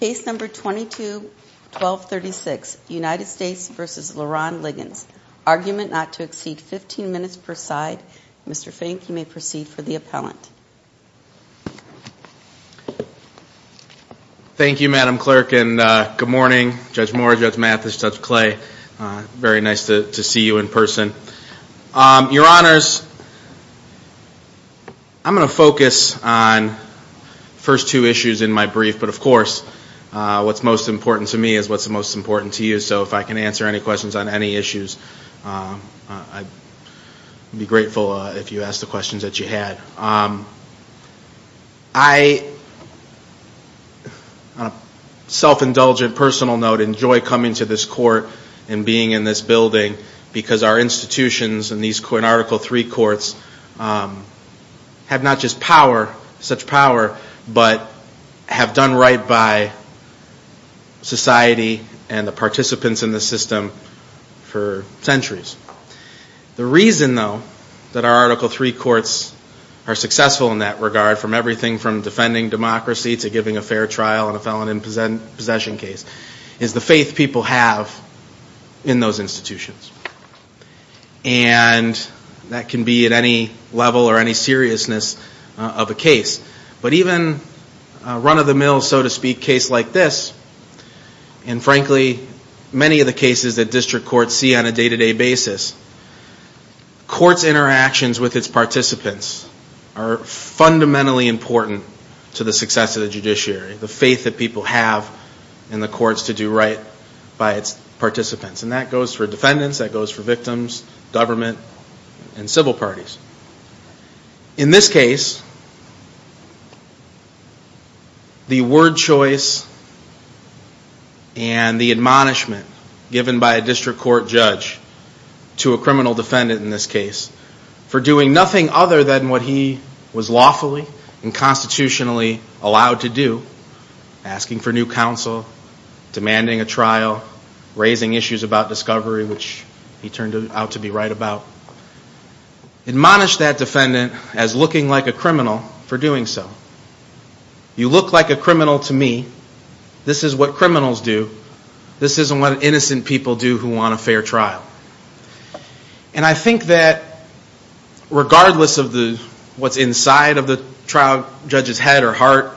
Case number 22-1236, United States v. Leron Liggins. Argument not to exceed 15 minutes per side. Mr. Fink, you may proceed for the appellant. Thank you, Madam Clerk, and good morning Judge Moore, Judge Mathis, Judge Clay. Very nice to see you in person. Your Honors, I'm going to focus on the first two issues in my brief, but of course, what's most important to me is what's most important to you, so if I can answer any questions on any issues, I'd be grateful if you asked the questions that you had. I, on a self-indulgent personal note, enjoy coming to this court and being in this building because our institutions and these Article III courts have not just power, such power, but have done right by society and the participants in the system for centuries. The reason, though, that our Article III courts are successful in that regard, from everything from defending democracy to giving a fair trial in a felon in possession case, is the faith people have in those institutions, and that can be at any level or any seriousness of a case. But even a run-of-the-mill, so to speak, case like this, and frankly, many of the cases that district courts see on a day-to-day basis, courts' interactions with its participants are fundamentally important to the success of the judiciary, the faith that people have in the courts to do right by its participants, and that goes for defendants, that goes for victims, government, and civil parties. In this case, the word choice and the admonishment given by a district court judge to a criminal defendant in this case for doing nothing other than what he was lawfully and constitutionally allowed to do, asking for new counsel, demanding a trial, raising issues about discovery, which he turned out to be right about. Admonish that defendant as looking like a criminal for doing so. You look like a criminal to me. This is what criminals do. This isn't what innocent people do who want a fair trial. And I think that regardless of what's inside of the trial judge's head or heart,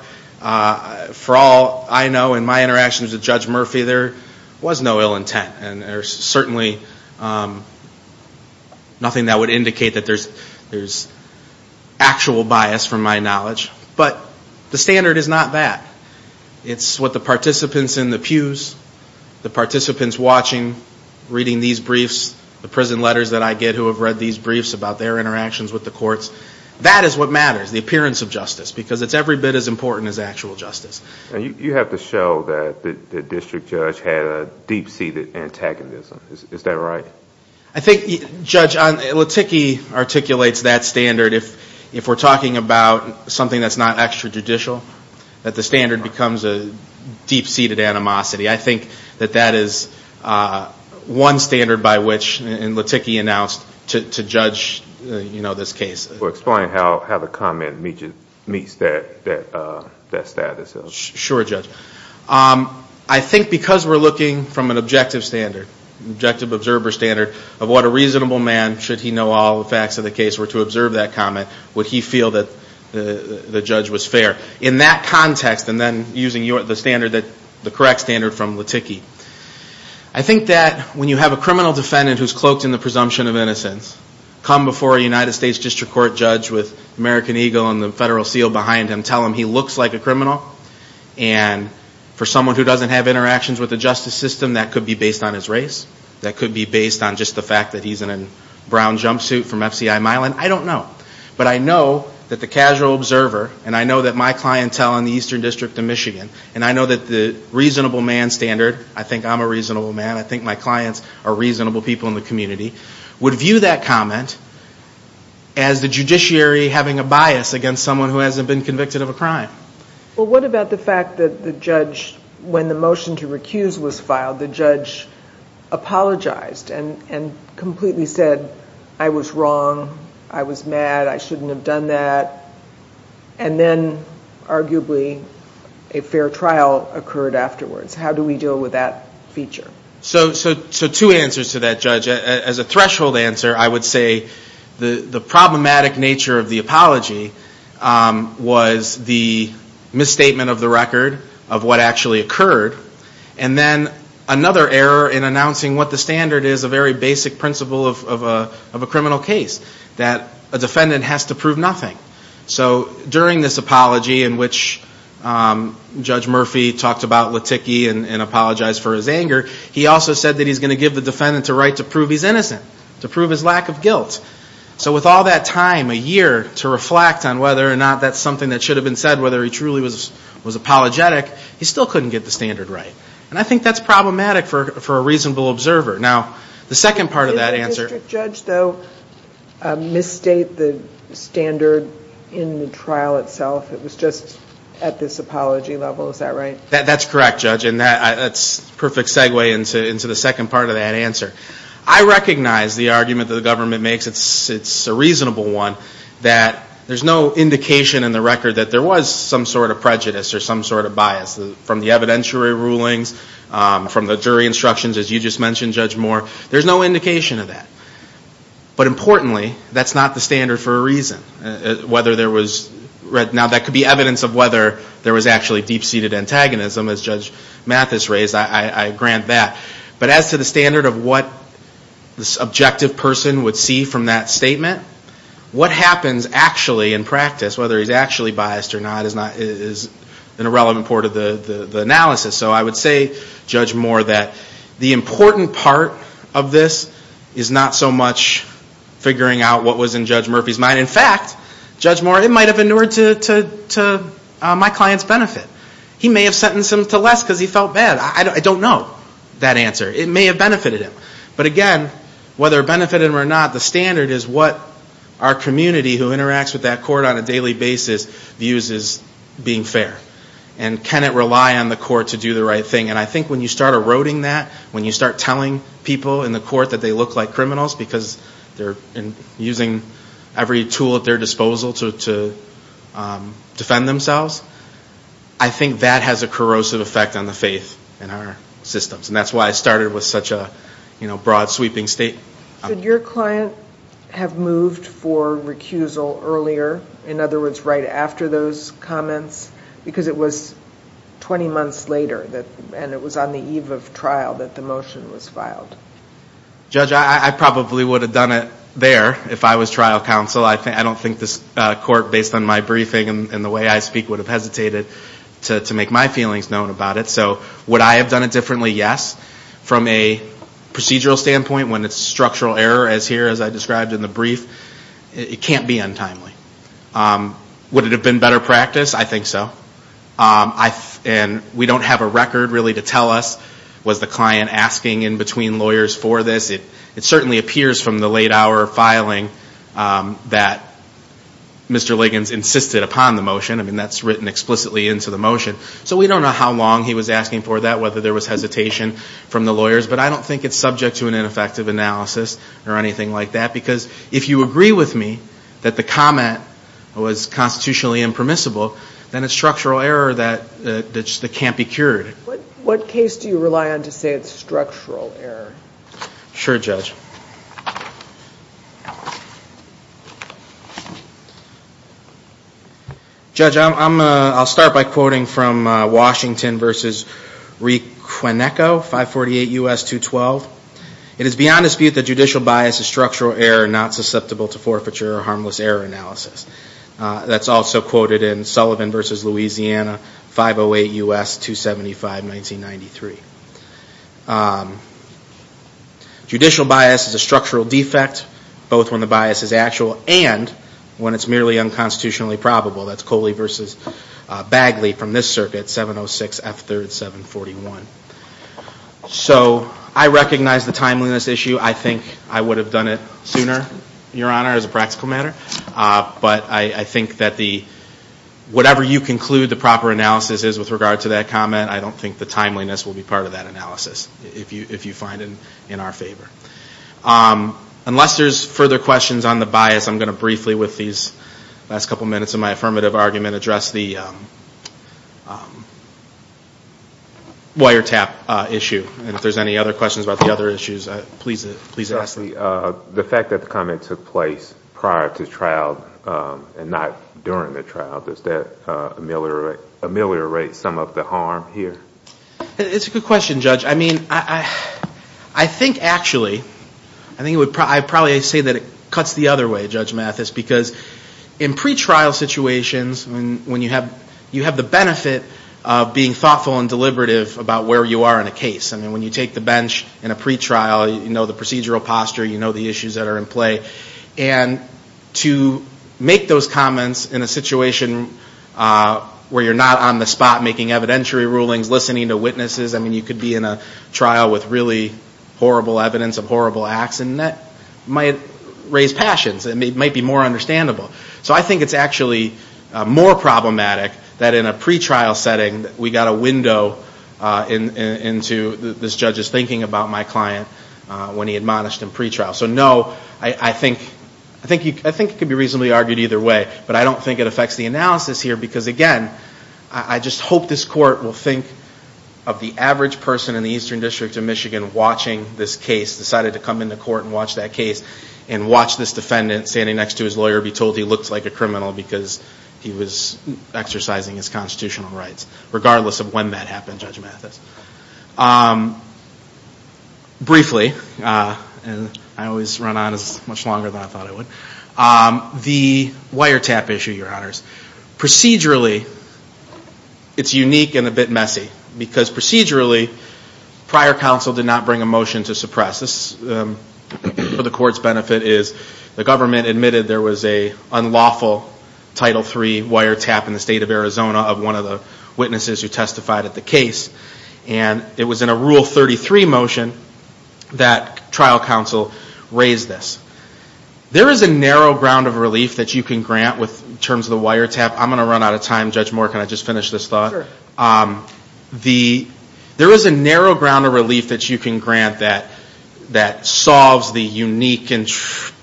for all I know in my interactions with Judge Murphy, there was no ill intent, and there's certainly nothing that would indicate that there's actual bias from my knowledge, but the standard is not that. It's what the participants in the pews, the participants watching, reading these briefs, the prison letters that I get who have read these briefs about their interactions with the courts, that is what matters, the appearance of justice, because it's every bit as important as actual justice. And you have to show that the district judge had a deep-seated antagonism. Is that right? I think, Judge, Latikki articulates that standard. If we're talking about something that's not extrajudicial, that the standard becomes a deep-seated animosity. I think that that is one standard by which, and Latikki announced, to judge this case. Explain how the comment meets that status. Sure, Judge. I think because we're looking from an objective standard, objective observer standard, of what a reasonable man, should he know all the facts of the case, were to observe that comment, would he feel that the judge was fair. In that context, and then using the standard, the correct standard from Latikki, I think that when you have a criminal defendant who's cloaked in the presumption of innocence, come before a United States District Court judge with American Eagle and the federal seal behind him, tell him he looks like a criminal, and tell him he's not a criminal. For someone who doesn't have interactions with the justice system, that could be based on his race, that could be based on just the fact that he's in a brown jumpsuit from FCI Milan, I don't know. But I know that the casual observer, and I know that my clientele in the Eastern District of Michigan, and I know that the reasonable man standard, I think I'm a reasonable man, I think my clients are reasonable people in the community, would view that comment as the judiciary having a bias against someone who hasn't been convicted of a crime. Well, what about the fact that the judge, when the motion to recuse was filed, the judge apologized and completely said, I was wrong, I was mad, I shouldn't have done that, and then, arguably, a fair trial occurred afterwards. How do we deal with that feature? So two answers to that, Judge. As a threshold answer, I would say the problematic nature of the apology was the misstatement of the record of what actually occurred, and then another error in announcing what the standard is, a very basic principle of a criminal case, that a defendant has to prove nothing. So during this apology in which Judge Murphy talked about Laticki and apologized for his anger, he also said that he's going to give the defendant the right to prove he's innocent, to prove his lack of guilt. So with all that time, a year, to reflect on whether or not that's something that should have been said, whether he truly was apologetic, he still couldn't get the standard right. And I think that's problematic for a reasonable observer. Now, the second part of that answer... I recognize the argument that the government makes, it's a reasonable one, that there's no indication in the record that there was some sort of prejudice or some sort of bias, from the evidentiary rulings, from the jury instructions, as you just mentioned, Judge Moore, there's no indication of that. But, importantly, there's no indication that there was some sort of bias. And I think that's a good segue into the second part of that answer. That's not the standard for a reason. Now, that could be evidence of whether there was actually deep-seated antagonism, as Judge Mathis raised, I grant that. But as to the standard of what the subjective person would see from that statement, what happens actually in practice, whether he's actually biased or not, is an irrelevant part of the analysis. So I would say, Judge Moore, that the important part of this is not so much figuring out what was in Judge Murphy's mind. In fact, Judge Moore, it might have inured to my client's benefit. He may have sentenced him to less because he felt bad. I don't know that answer. It may have benefited him. But, again, whether it benefited him or not, the standard is what our community, who interacts with that court on a daily basis, views as being fair. And can it rely on the court to do the right thing? And I think when you start eroding that, when you start telling people in the court that they look like criminals because they're using every tool at their disposal to defend themselves, I think that has a corrosive effect on the faith in our systems. And that's why I started with such a broad, sweeping statement. Should your client have moved for recusal earlier? In other words, right after those comments? Because it was 20 months later, and it was on the eve of trial, that the motion was filed. Judge, I probably would have done it there if I was trial counsel. I don't think this court, based on my briefing and the way I speak, would have hesitated to make my feelings known about it. So would I have done it differently? Yes. From a procedural standpoint, when it's structural error, as here, as I described in the brief, it can't be untimely. Would it have been better practice? I think so. And we don't have a record, really, to tell us, was the client asking in between lawyers for this? It certainly appears from the late hour filing that Mr. Liggins insisted upon the motion. I mean, that's written explicitly into the motion. So we don't know how long he was asking for that, whether there was hesitation from the lawyers. But I don't think it's subject to an ineffective analysis or anything like that, because if you agree with me that the comment was constitutionally impermissible, then it's structural error that can't be cured. What case do you rely on to say it's structural error? Sure, Judge. Judge, I'll start by quoting from Washington v. Requineco, 548 U.S. 212. It is beyond dispute that judicial bias is structural error, not susceptible to forfeiture or harmless error analysis. That's also quoted in Sullivan v. Louisiana, 508 U.S. 275, 1993. Judicial bias is a structural defect, both when the bias is actual and when it's merely unconstitutionally probable. That's Coley v. Bagley from this circuit, 706 F. 3rd, 741. So I recognize the timeliness issue. I think I would have done it sooner, Your Honor, as a practical matter. But I think that whatever you conclude the proper analysis is with regard to that comment, I don't think the timeliness will be part of that analysis, if you find it in our favor. Unless there's further questions on the bias, I'm going to briefly, with these last couple of minutes of my affirmative argument, address the wiretap issue. And if there's any other questions about the other issues, please ask them. The fact that the comment took place prior to trial and not during the trial, does that ameliorate some of the harm here? It's a good question, Judge. I mean, I think, actually, I think I would probably say that it cuts the other way, Judge Mathis, because in pretrial situations, when you have the benefit of being thoughtful and deliberative about where you are in a case, I mean, when you take the bench in a pretrial, you know the procedural posture, you know the issues that are in play. And to make those comments in a situation where you're not on the spot making evidentiary rulings, listening to witnesses, I mean, you could be in a trial with really horrible evidence of horrible acts, and that might raise passions. It might be more understandable. So I think it's actually more problematic that in a pretrial setting, we got a window into this judge's thinking about my client when he admonished him pretrial. So no, I think it could be reasonably argued either way, but I don't think it affects the analysis here, because again, I just hope this court will think of the average person in the Eastern District of Michigan watching this case, decided to come into court and watch that case, and watch this defendant standing next to his lawyer be told he looked like a criminal because he was exercising his constitutional rights, regardless of when that happened, Judge Mathis. Briefly, and I always run on as much longer than I thought I would, the wiretap issue, Your Honors, procedurally, it's unique and a bit messy, because procedurally, prior counsel did not bring a motion to suppress. This, for the court's benefit, is the government admitted there was an unlawful Title III wiretap in the state of Arizona of one of the witnesses who testified at the case, and it was in a Rule 33 motion that trial counsel raised this. There is a narrow ground of relief that you can grant with terms of the wiretap. I'm going to run out of time. Judge Moore, can I just finish this thought? There is a narrow ground of relief that you can grant that solves the unique and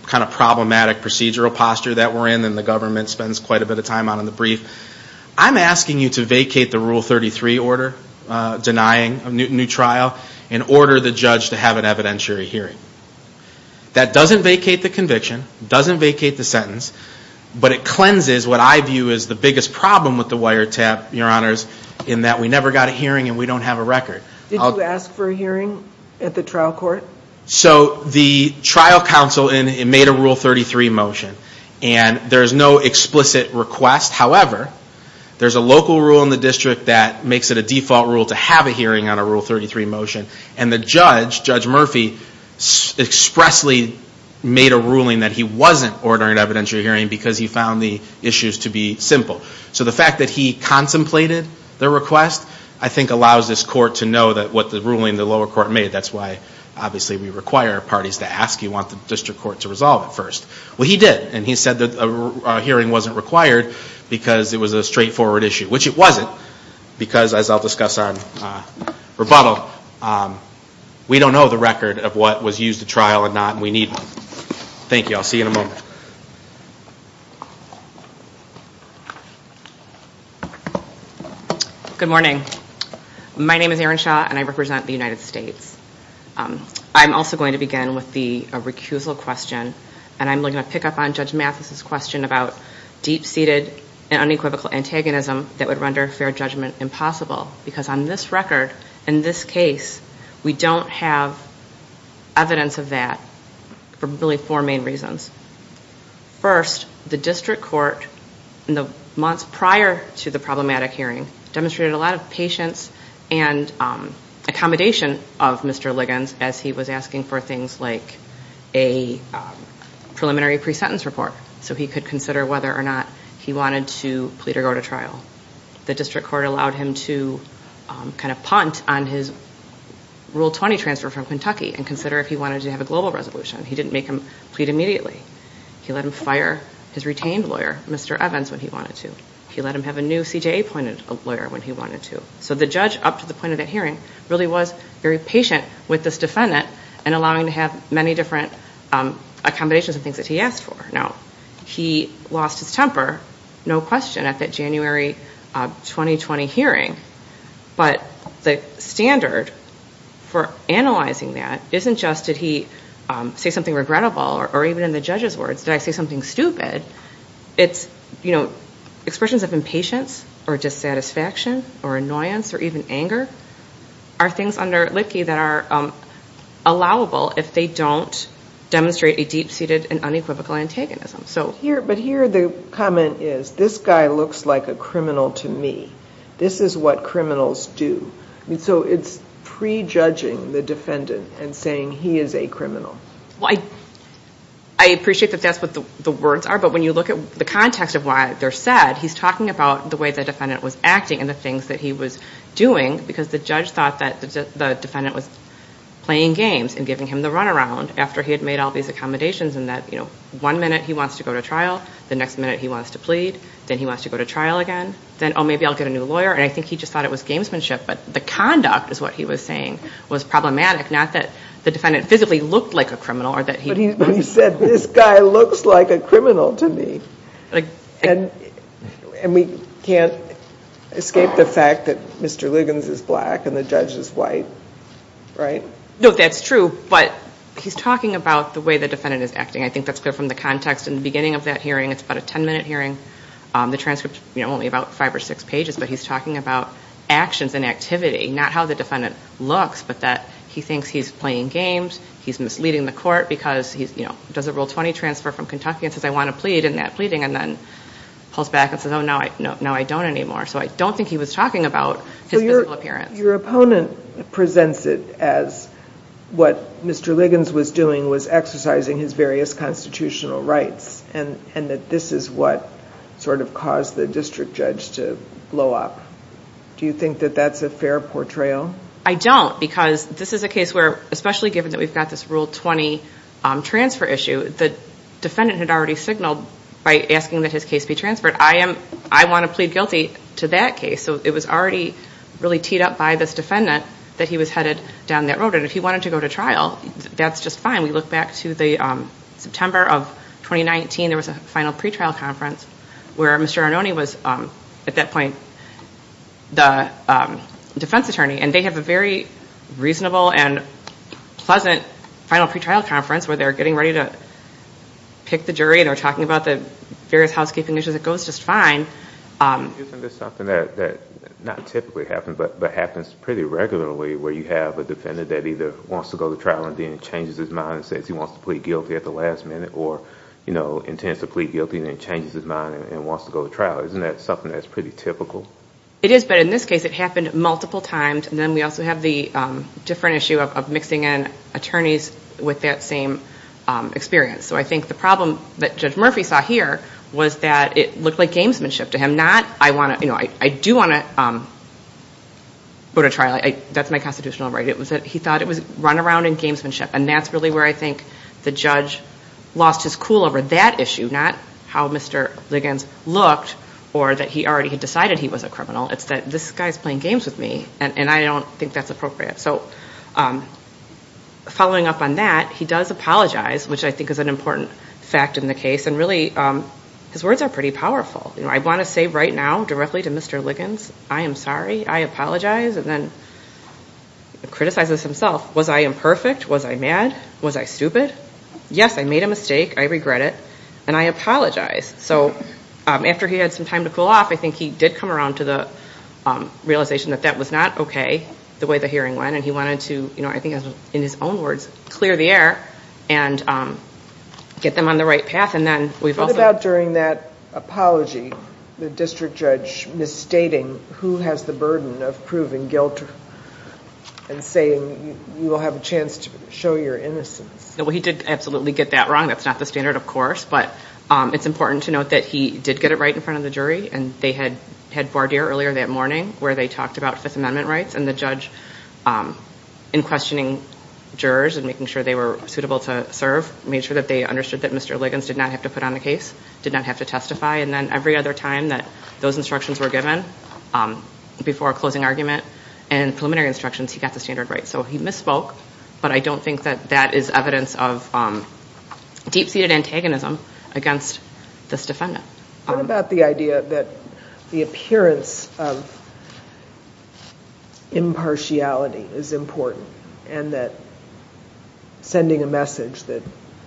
kind of problematic procedural posture that we're in, and the government spends quite a bit of time on in the brief. I'm asking you to vacate the Rule 33 order, denying a new trial, and order the judge to have an evidentiary hearing. That doesn't vacate the conviction, doesn't vacate the sentence, but it cleanses what I view is the biggest problem with the wiretap, Your Honors, in that we never got a hearing and we don't have a record. Did you ask for a hearing at the trial court? So the trial counsel made a Rule 33 motion, and there's no explicit request. However, there's a local rule in the district that makes it a default rule to have a hearing on a Rule 33 motion, and the judge, Judge Murphy, expressly made a ruling that he wasn't ordering an evidentiary hearing because he found the issues to be simple. So the fact that he contemplated the request, I think, allows this court to know what the ruling the lower court made. That's why, obviously, we require parties to ask. You want the district court to resolve it first. Well, he did, and he said that a hearing wasn't required because it was a straightforward issue, which it wasn't, because, as I'll discuss on rebuttal, we don't know the record of what was used at trial or not, and we need one. Thank you. I'll see you in a moment. Good morning. My name is Erin Shaw, and I represent the United States. I'm also going to begin with the recusal question, and I'm going to pick up on Judge Mathis's question about deep-seated and unequivocal antagonism that would render fair judgment impossible, because on this record, in this case, we don't have evidence of that for really four main reasons. First, the district court, in the months prior to the problematic hearing, demonstrated a lot of patience and accommodation of Mr. Liggins as he was asking for things like a preliminary pre-sentence report so he could consider whether or not he wanted to plead or go to trial. The district court allowed him to kind of punt on his Rule 20 transfer from Kentucky and consider if he wanted to have a global resolution. He didn't make him plead immediately. He let him fire his retained lawyer, Mr. Evans, when he wanted to. He let him have a new CJA-appointed lawyer when he wanted to. So the judge, up to the point of that hearing, really was very patient with this defendant and allowing him to have many different accommodations and things that he asked for. Now, he lost his temper, no question, at that January 2020 hearing, but the standard for analyzing that isn't just did he say something regrettable or even in the judge's words, did I say something stupid? It's expressions of impatience or dissatisfaction or annoyance or even anger are things under Litkey that are allowable if they don't demonstrate a deep-seated and unequivocal antagonism. But here the comment is, this guy looks like a criminal to me. This is what criminals do. So it's prejudging the defendant and saying he is a criminal. Well, I appreciate that that's what the words are, but when you look at the context of what they're said, he's talking about the way the defendant was acting and the things that he was doing, because the judge thought that the defendant was playing games and giving him the runaround after he had made all these accommodations and that one minute he wants to go to trial, the next minute he wants to plead, then he wants to go to trial again, then, oh, maybe I'll get a new lawyer, and I think he just thought it was gamesmanship. But the conduct is what he was saying was problematic, not that the defendant physically looked like a criminal or that he... But he said, this guy looks like a criminal to me. And we can't escape the fact that Mr. Liggins is black and the judge is white, right? No, that's true, but he's talking about the way the defendant is acting. I think that's clear from the context. In the beginning of that hearing, it's about a 10-minute hearing. The transcript's only about five or six pages, but he's talking about actions and activity, not how the defendant looks, but that he thinks he's playing games, he's misleading the court because, you know, does a Rule 20 transfer from Kentucky and says, I want to plead, and that pleading, and then pulls back and says, oh, no, I don't anymore. So I don't think he was talking about his physical appearance. Your opponent presents it as what Mr. Liggins was doing was exercising his various constitutional rights, and that this is what sort of caused the district judge to blow up. Do you think that that's a fair portrayal? I don't, because this is a case where, especially given that we've got this Rule 20 transfer issue, the defendant had already signaled by asking that his case be transferred. I want to plead guilty to that case. So it was already really teed up by this defendant that he was headed down that road. And if he wanted to go to trial, that's just fine. We look back to the September of 2019. There was a final pretrial conference where Mr. Arnone was, at that point, the defense attorney. And they have a very reasonable and pleasant final pretrial conference where they're getting ready to pick the jury. They're talking about the various housekeeping issues. It goes just fine. Isn't this something that not typically happens but happens pretty regularly where you have a defendant that either wants to go to trial and then changes his mind and says he wants to plead guilty at the last minute or intends to plead guilty and then changes his mind and wants to go to trial? Isn't that something that's pretty typical? It is, but in this case it happened multiple times. And then we also have the different issue of mixing in attorneys with that same experience. So I think the problem that Judge Murphy saw here was that it looked like gamesmanship to him, not I do want to go to trial. That's my constitutional right. He thought it was runaround and gamesmanship. And that's really where I think the judge lost his cool over that issue, not how Mr. Liggins looked or that he already had decided he was a criminal. It's that this guy's playing games with me, and I don't think that's appropriate. So following up on that, he does apologize, which I think is an important fact in the case. And really his words are pretty powerful. You know, I want to say right now directly to Mr. Liggins, I am sorry, I apologize. And then he criticizes himself. Was I imperfect? Was I mad? Was I stupid? Yes, I made a mistake. I regret it. And I apologize. So after he had some time to cool off, I think he did come around to the realization that that was not okay, the way the hearing went. And he wanted to, I think in his own words, clear the air and get them on the right path. What about during that apology, the district judge misstating who has the burden of proving guilt and saying you will have a chance to show your innocence? Well, he did absolutely get that wrong. That's not the standard, of course. But it's important to note that he did get it right in front of the jury. And they had had voir dire earlier that morning where they talked about Fifth Amendment rights. And the judge, in questioning jurors and making sure they were suitable to serve, made sure that they understood that Mr. Liggins did not have to put on a case, did not have to testify. And then every other time that those instructions were given before a closing argument and preliminary instructions, he got the standard right. So he misspoke, but I don't think that that is evidence of deep-seated antagonism against this defendant. What about the idea that the appearance of impartiality is important and that sending a message that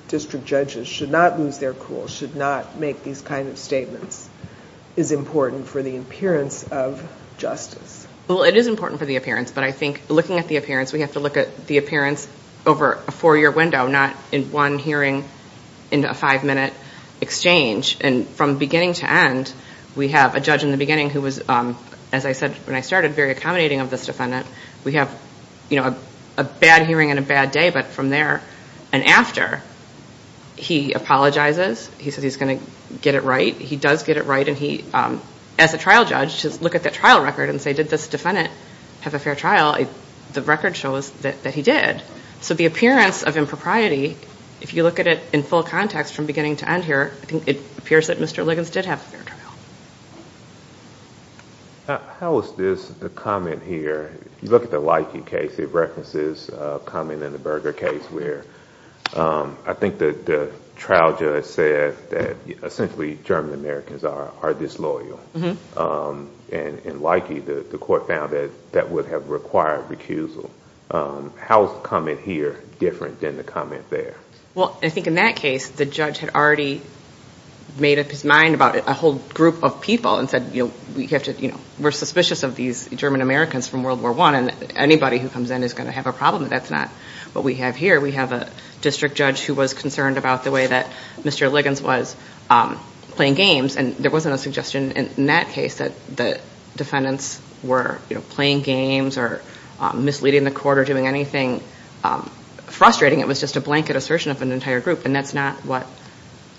district judges should not lose their cool, should not make these kind of statements, is important for the appearance of justice? Well, it is important for the appearance. But I think looking at the appearance, we have to look at the appearance over a four-year window, not in one hearing into a five-minute exchange. And from beginning to end, we have a judge in the beginning who was, as I said when I started, very accommodating of this defendant. We have a bad hearing and a bad day. But from there and after, he apologizes. He says he's going to get it right. He does get it right. And he, as a trial judge, should look at that trial record and say, did this defendant have a fair trial? The record shows that he did. So the appearance of impropriety, if you look at it in full context from beginning to end here, I think it appears that Mr. Liggins did have a fair trial. How is this, the comment here, if you look at the Leike case, it references a comment in the Berger case where I think the trial judge said that essentially German-Americans are disloyal. And in Leike, the court found that that would have required recusal. How is the comment here different than the comment there? Well, I think in that case, the judge had already made up his mind about a whole group of people and said we're suspicious of these German-Americans from World War I and anybody who comes in is going to have a problem. That's not what we have here. We have a district judge who was concerned about the way that Mr. Liggins was playing games, and there wasn't a suggestion in that case that the defendants were playing games or misleading the court or doing anything frustrating. It was just a blanket assertion of an entire group, and that's not what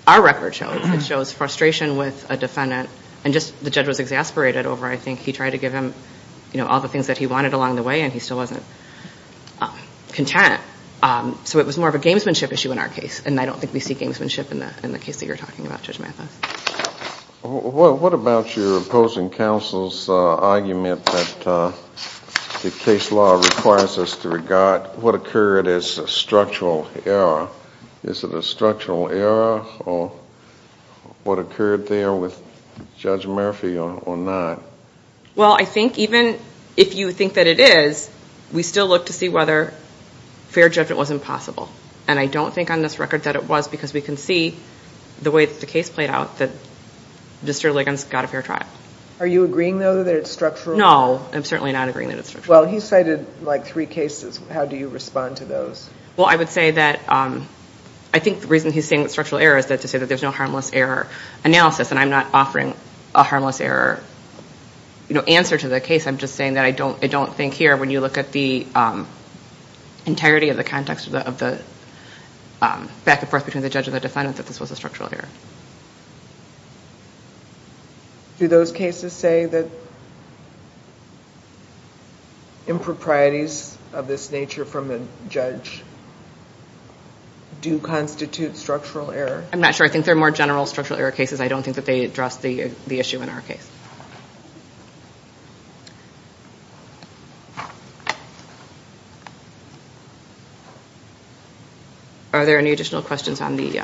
our record shows. It shows frustration with a defendant, and just the judge was exasperated over, I think, he tried to give him all the things that he wanted along the way and he still wasn't content. So it was more of a gamesmanship issue in our case, and I don't think we see gamesmanship in the case that you're talking about, Judge Mathis. What about your opposing counsel's argument that the case law requires us to regard what occurred as a structural error? Is it a structural error or what occurred there with Judge Murphy or not? Well, I think even if you think that it is, we still look to see whether fair judgment was impossible, and I don't think on this record that it was because we can see the way that the case played out that Mr. Liggins got a fair trial. Are you agreeing, though, that it's structural? No, I'm certainly not agreeing that it's structural. Well, he cited like three cases. How do you respond to those? Well, I would say that I think the reason he's saying it's structural error is to say that there's no harmless error analysis, and I'm not offering a harmless error answer to the case. I'm just saying that I don't think here when you look at the integrity of the context of the back and forth between the judge and the defendant that this was a structural error. Do those cases say that improprieties of this nature from the judge do constitute structural error? I'm not sure. I think they're more general structural error cases. I don't think that they address the issue in our case. Are there any additional questions on the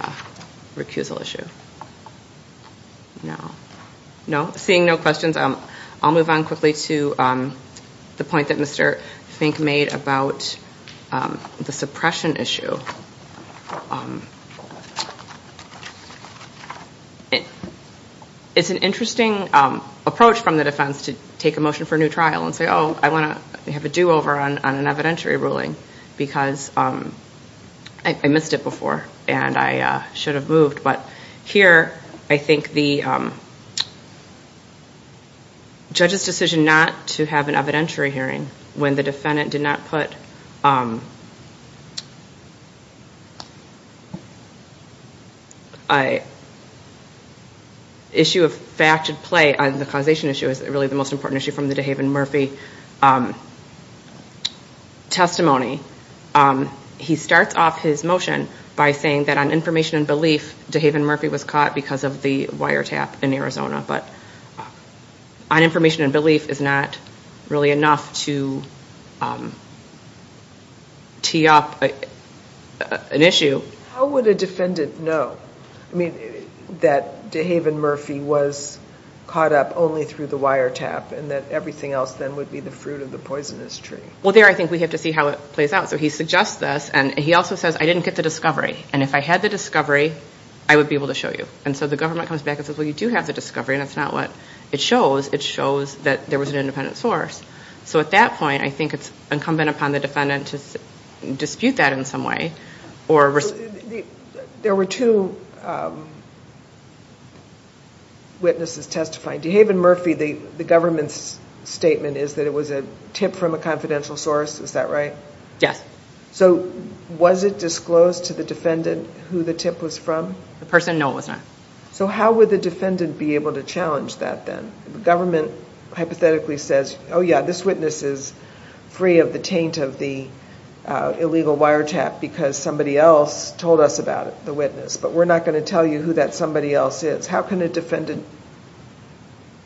recusal issue? No. Seeing no questions, I'll move on quickly to the point that Mr. Fink made about the suppression issue. It's an interesting approach from the defense to take a motion for a new trial and say, oh, I want to have a do-over on an evidentiary ruling because I missed it before and I should have moved. But here I think the judge's decision not to have an evidentiary hearing when the defendant did not put an issue of fact to play on the causation issue is really the most important issue from the DeHaven-Murphy testimony. He starts off his motion by saying that on information and belief, DeHaven-Murphy was caught because of the wiretap in Arizona, but on information and belief is not really enough to tee up an issue. How would a defendant know that DeHaven-Murphy was caught up only through the wiretap and that everything else then would be the fruit of the poisonous tree? Well, there I think we have to see how it plays out. So he suggests this, and he also says, I didn't get the discovery, and if I had the discovery, I would be able to show you. And so the government comes back and says, well, you do have the discovery, and it's not what it shows. It shows that there was an independent source. So at that point, I think it's incumbent upon the defendant to dispute that in some way. There were two witnesses testifying. DeHaven-Murphy, the government's statement is that it was a tip from a confidential source. Is that right? Yes. So was it disclosed to the defendant who the tip was from? The person? No, it was not. So how would the defendant be able to challenge that then? The government hypothetically says, oh, yeah, this witness is free of the taint of the illegal wiretap because somebody else told us about the witness, but we're not going to tell you who that somebody else is. How can a defendant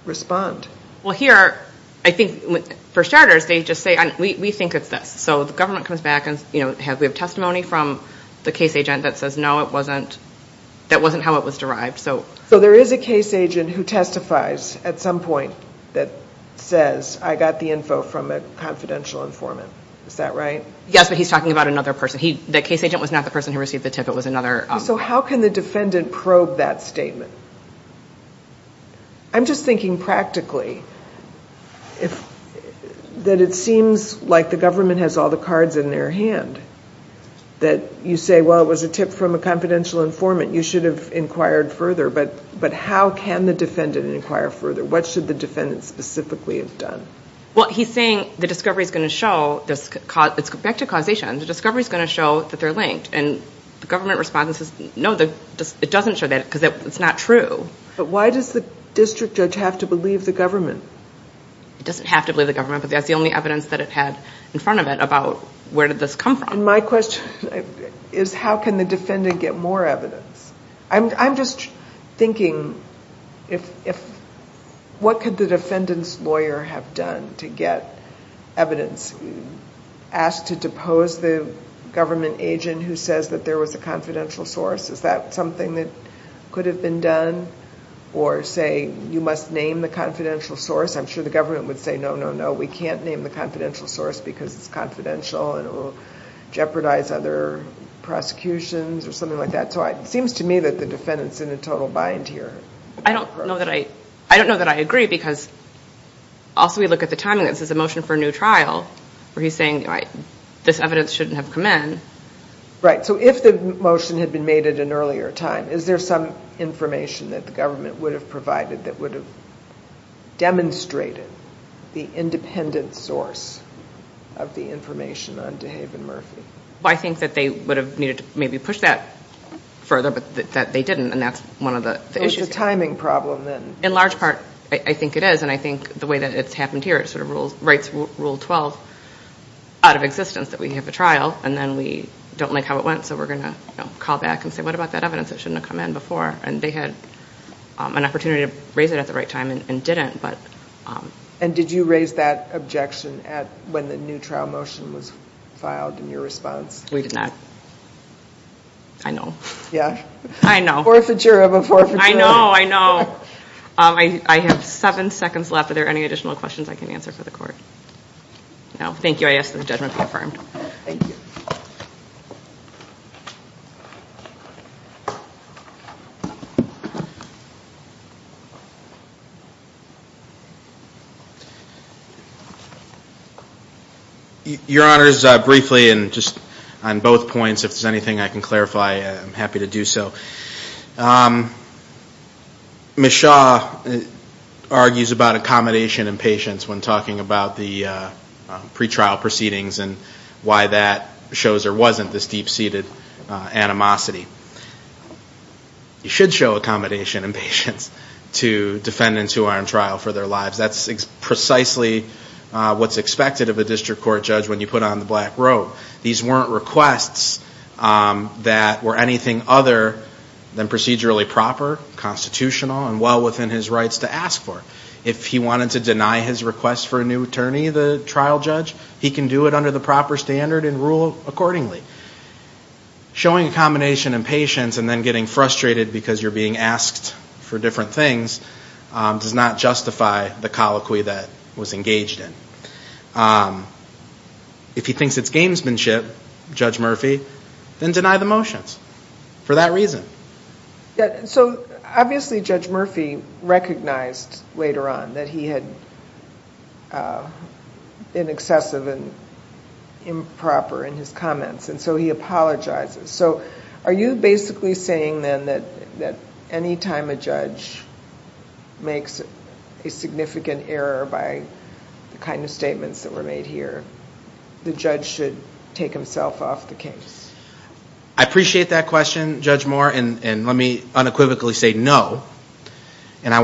respond? Well, here, I think for starters, they just say, we think it's this. So the government comes back and, you know, we have testimony from the case agent that says, no, that wasn't how it was derived. So there is a case agent who testifies at some point that says, I got the info from a confidential informant. Is that right? Yes, but he's talking about another person. The case agent was not the person who received the tip. It was another. So how can the defendant probe that statement? I'm just thinking practically that it seems like the government has all the cards in their hand, that you say, well, it was a tip from a confidential informant. You should have inquired further. But how can the defendant inquire further? What should the defendant specifically have done? Well, he's saying the discovery is going to show, back to causation, the discovery is going to show that they're linked. And the government response is, no, it doesn't show that because it's not true. But why does the district judge have to believe the government? It doesn't have to believe the government, but that's the only evidence that it had in front of it about where did this come from. And my question is, how can the defendant get more evidence? I'm just thinking, what could the defendant's lawyer have done to get evidence? Ask to depose the government agent who says that there was a confidential source. Is that something that could have been done? Or say, you must name the confidential source. I'm sure the government would say, no, no, no. We can't name the confidential source because it's confidential and it will jeopardize other prosecutions or something like that. So it seems to me that the defendant's in a total bind here. I don't know that I agree because also we look at the timing. This is a motion for a new trial where he's saying this evidence shouldn't have come in. Right. So if the motion had been made at an earlier time, is there some information that the government would have provided that would have demonstrated the independent source of the information on DeHaven Murphy? Well, I think that they would have needed to maybe push that further, but that they didn't, and that's one of the issues. So it's a timing problem then. In large part, I think it is, and I think the way that it's happened here it sort of writes Rule 12 out of existence that we have a trial and then we don't like how it went, so we're going to call back and say, what about that evidence that shouldn't have come in before? And they had an opportunity to raise it at the right time and didn't. And did you raise that objection when the new trial motion was filed in your response? We did not. I know. Yeah. I know. Forfeiture of a forfeiture. I know. I know. I have seven seconds left. Are there any additional questions I can answer for the court? No. Thank you. I ask that the judgment be affirmed. Thank you. Your Honors, briefly, and just on both points, if there's anything I can clarify, I'm happy to do so. Ms. Shaw argues about accommodation and patience when talking about the pretrial proceedings and why that shows there wasn't this deep-seated animosity. You should show accommodation and patience to defendants who are on trial for their lives. That's precisely what's expected of a district court judge when you put on the black robe. These weren't requests that were anything other than procedurally proper, constitutional, and well within his rights to ask for. If he wanted to deny his request for a new attorney, the trial judge, he can do it under the proper standard and rule accordingly. Showing accommodation and patience and then getting frustrated because you're being asked for different things does not justify the colloquy that was engaged in. If he thinks it's gamesmanship, Judge Murphy, then deny the motions for that reason. So obviously Judge Murphy recognized later on that he had been excessive and improper in his comments, and so he apologizes. So are you basically saying then that any time a judge makes a significant error by the kind of statements that were made here, the judge should take himself off the case? I appreciate that question, Judge Moore, and let me unequivocally say no. And I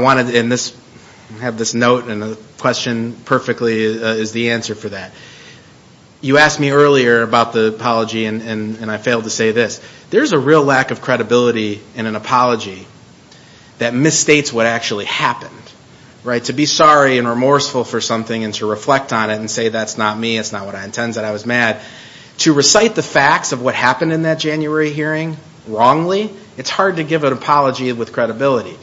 have this note and the question perfectly is the answer for that. You asked me earlier about the apology, and I failed to say this. There's a real lack of credibility in an apology that misstates what actually happened. To be sorry and remorseful for something and to reflect on it and say that's not me, that's not what I intended, I was mad, to recite the facts of what happened in that January hearing wrongly, it's hard to give an apology with credibility.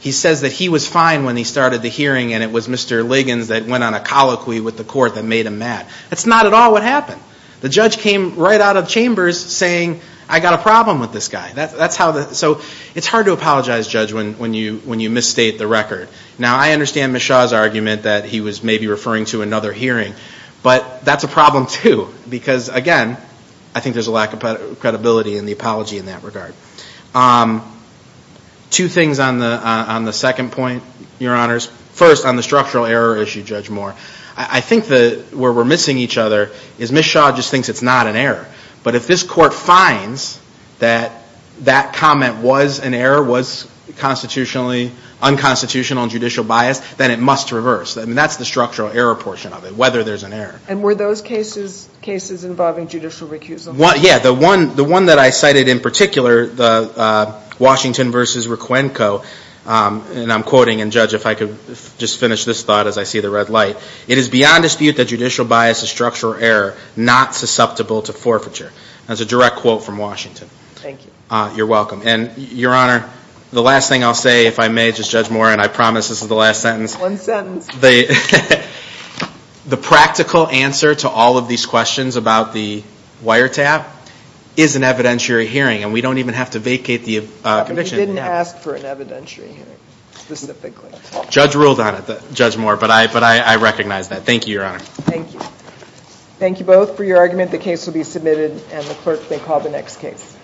He says that he was fine when he started the hearing and it was Mr. Liggins that went on a colloquy with the court that made him mad. That's not at all what happened. The judge came right out of chambers saying I got a problem with this guy. So it's hard to apologize, Judge, when you misstate the record. Now, I understand Ms. Shaw's argument that he was maybe referring to another hearing, but that's a problem too because, again, I think there's a lack of credibility in the apology in that regard. Two things on the second point, Your Honors. First, on the structural error issue, Judge Moore. I think where we're missing each other is Ms. Shaw just thinks it's not an error. But if this court finds that that comment was an error, was unconstitutional and judicial biased, then it must reverse. I mean, that's the structural error portion of it, whether there's an error. And were those cases involving judicial recusal? Yeah. The one that I cited in particular, the Washington v. Requenco, and I'm quoting, and, Judge, if I could just finish this thought as I see the red light. It is beyond dispute that judicial bias is structural error, not susceptible to forfeiture. That's a direct quote from Washington. Thank you. You're welcome. And, Your Honor, the last thing I'll say, if I may, Judge Moore, and I promise this is the last sentence. One sentence. The practical answer to all of these questions about the wiretap is an evidentiary hearing, and we don't even have to vacate the conviction. But you didn't ask for an evidentiary hearing specifically. Judge ruled on it, Judge Moore, but I recognize that. Thank you, Your Honor. Thank you. Thank you both for your argument. The case will be submitted, and the clerk may call the next case.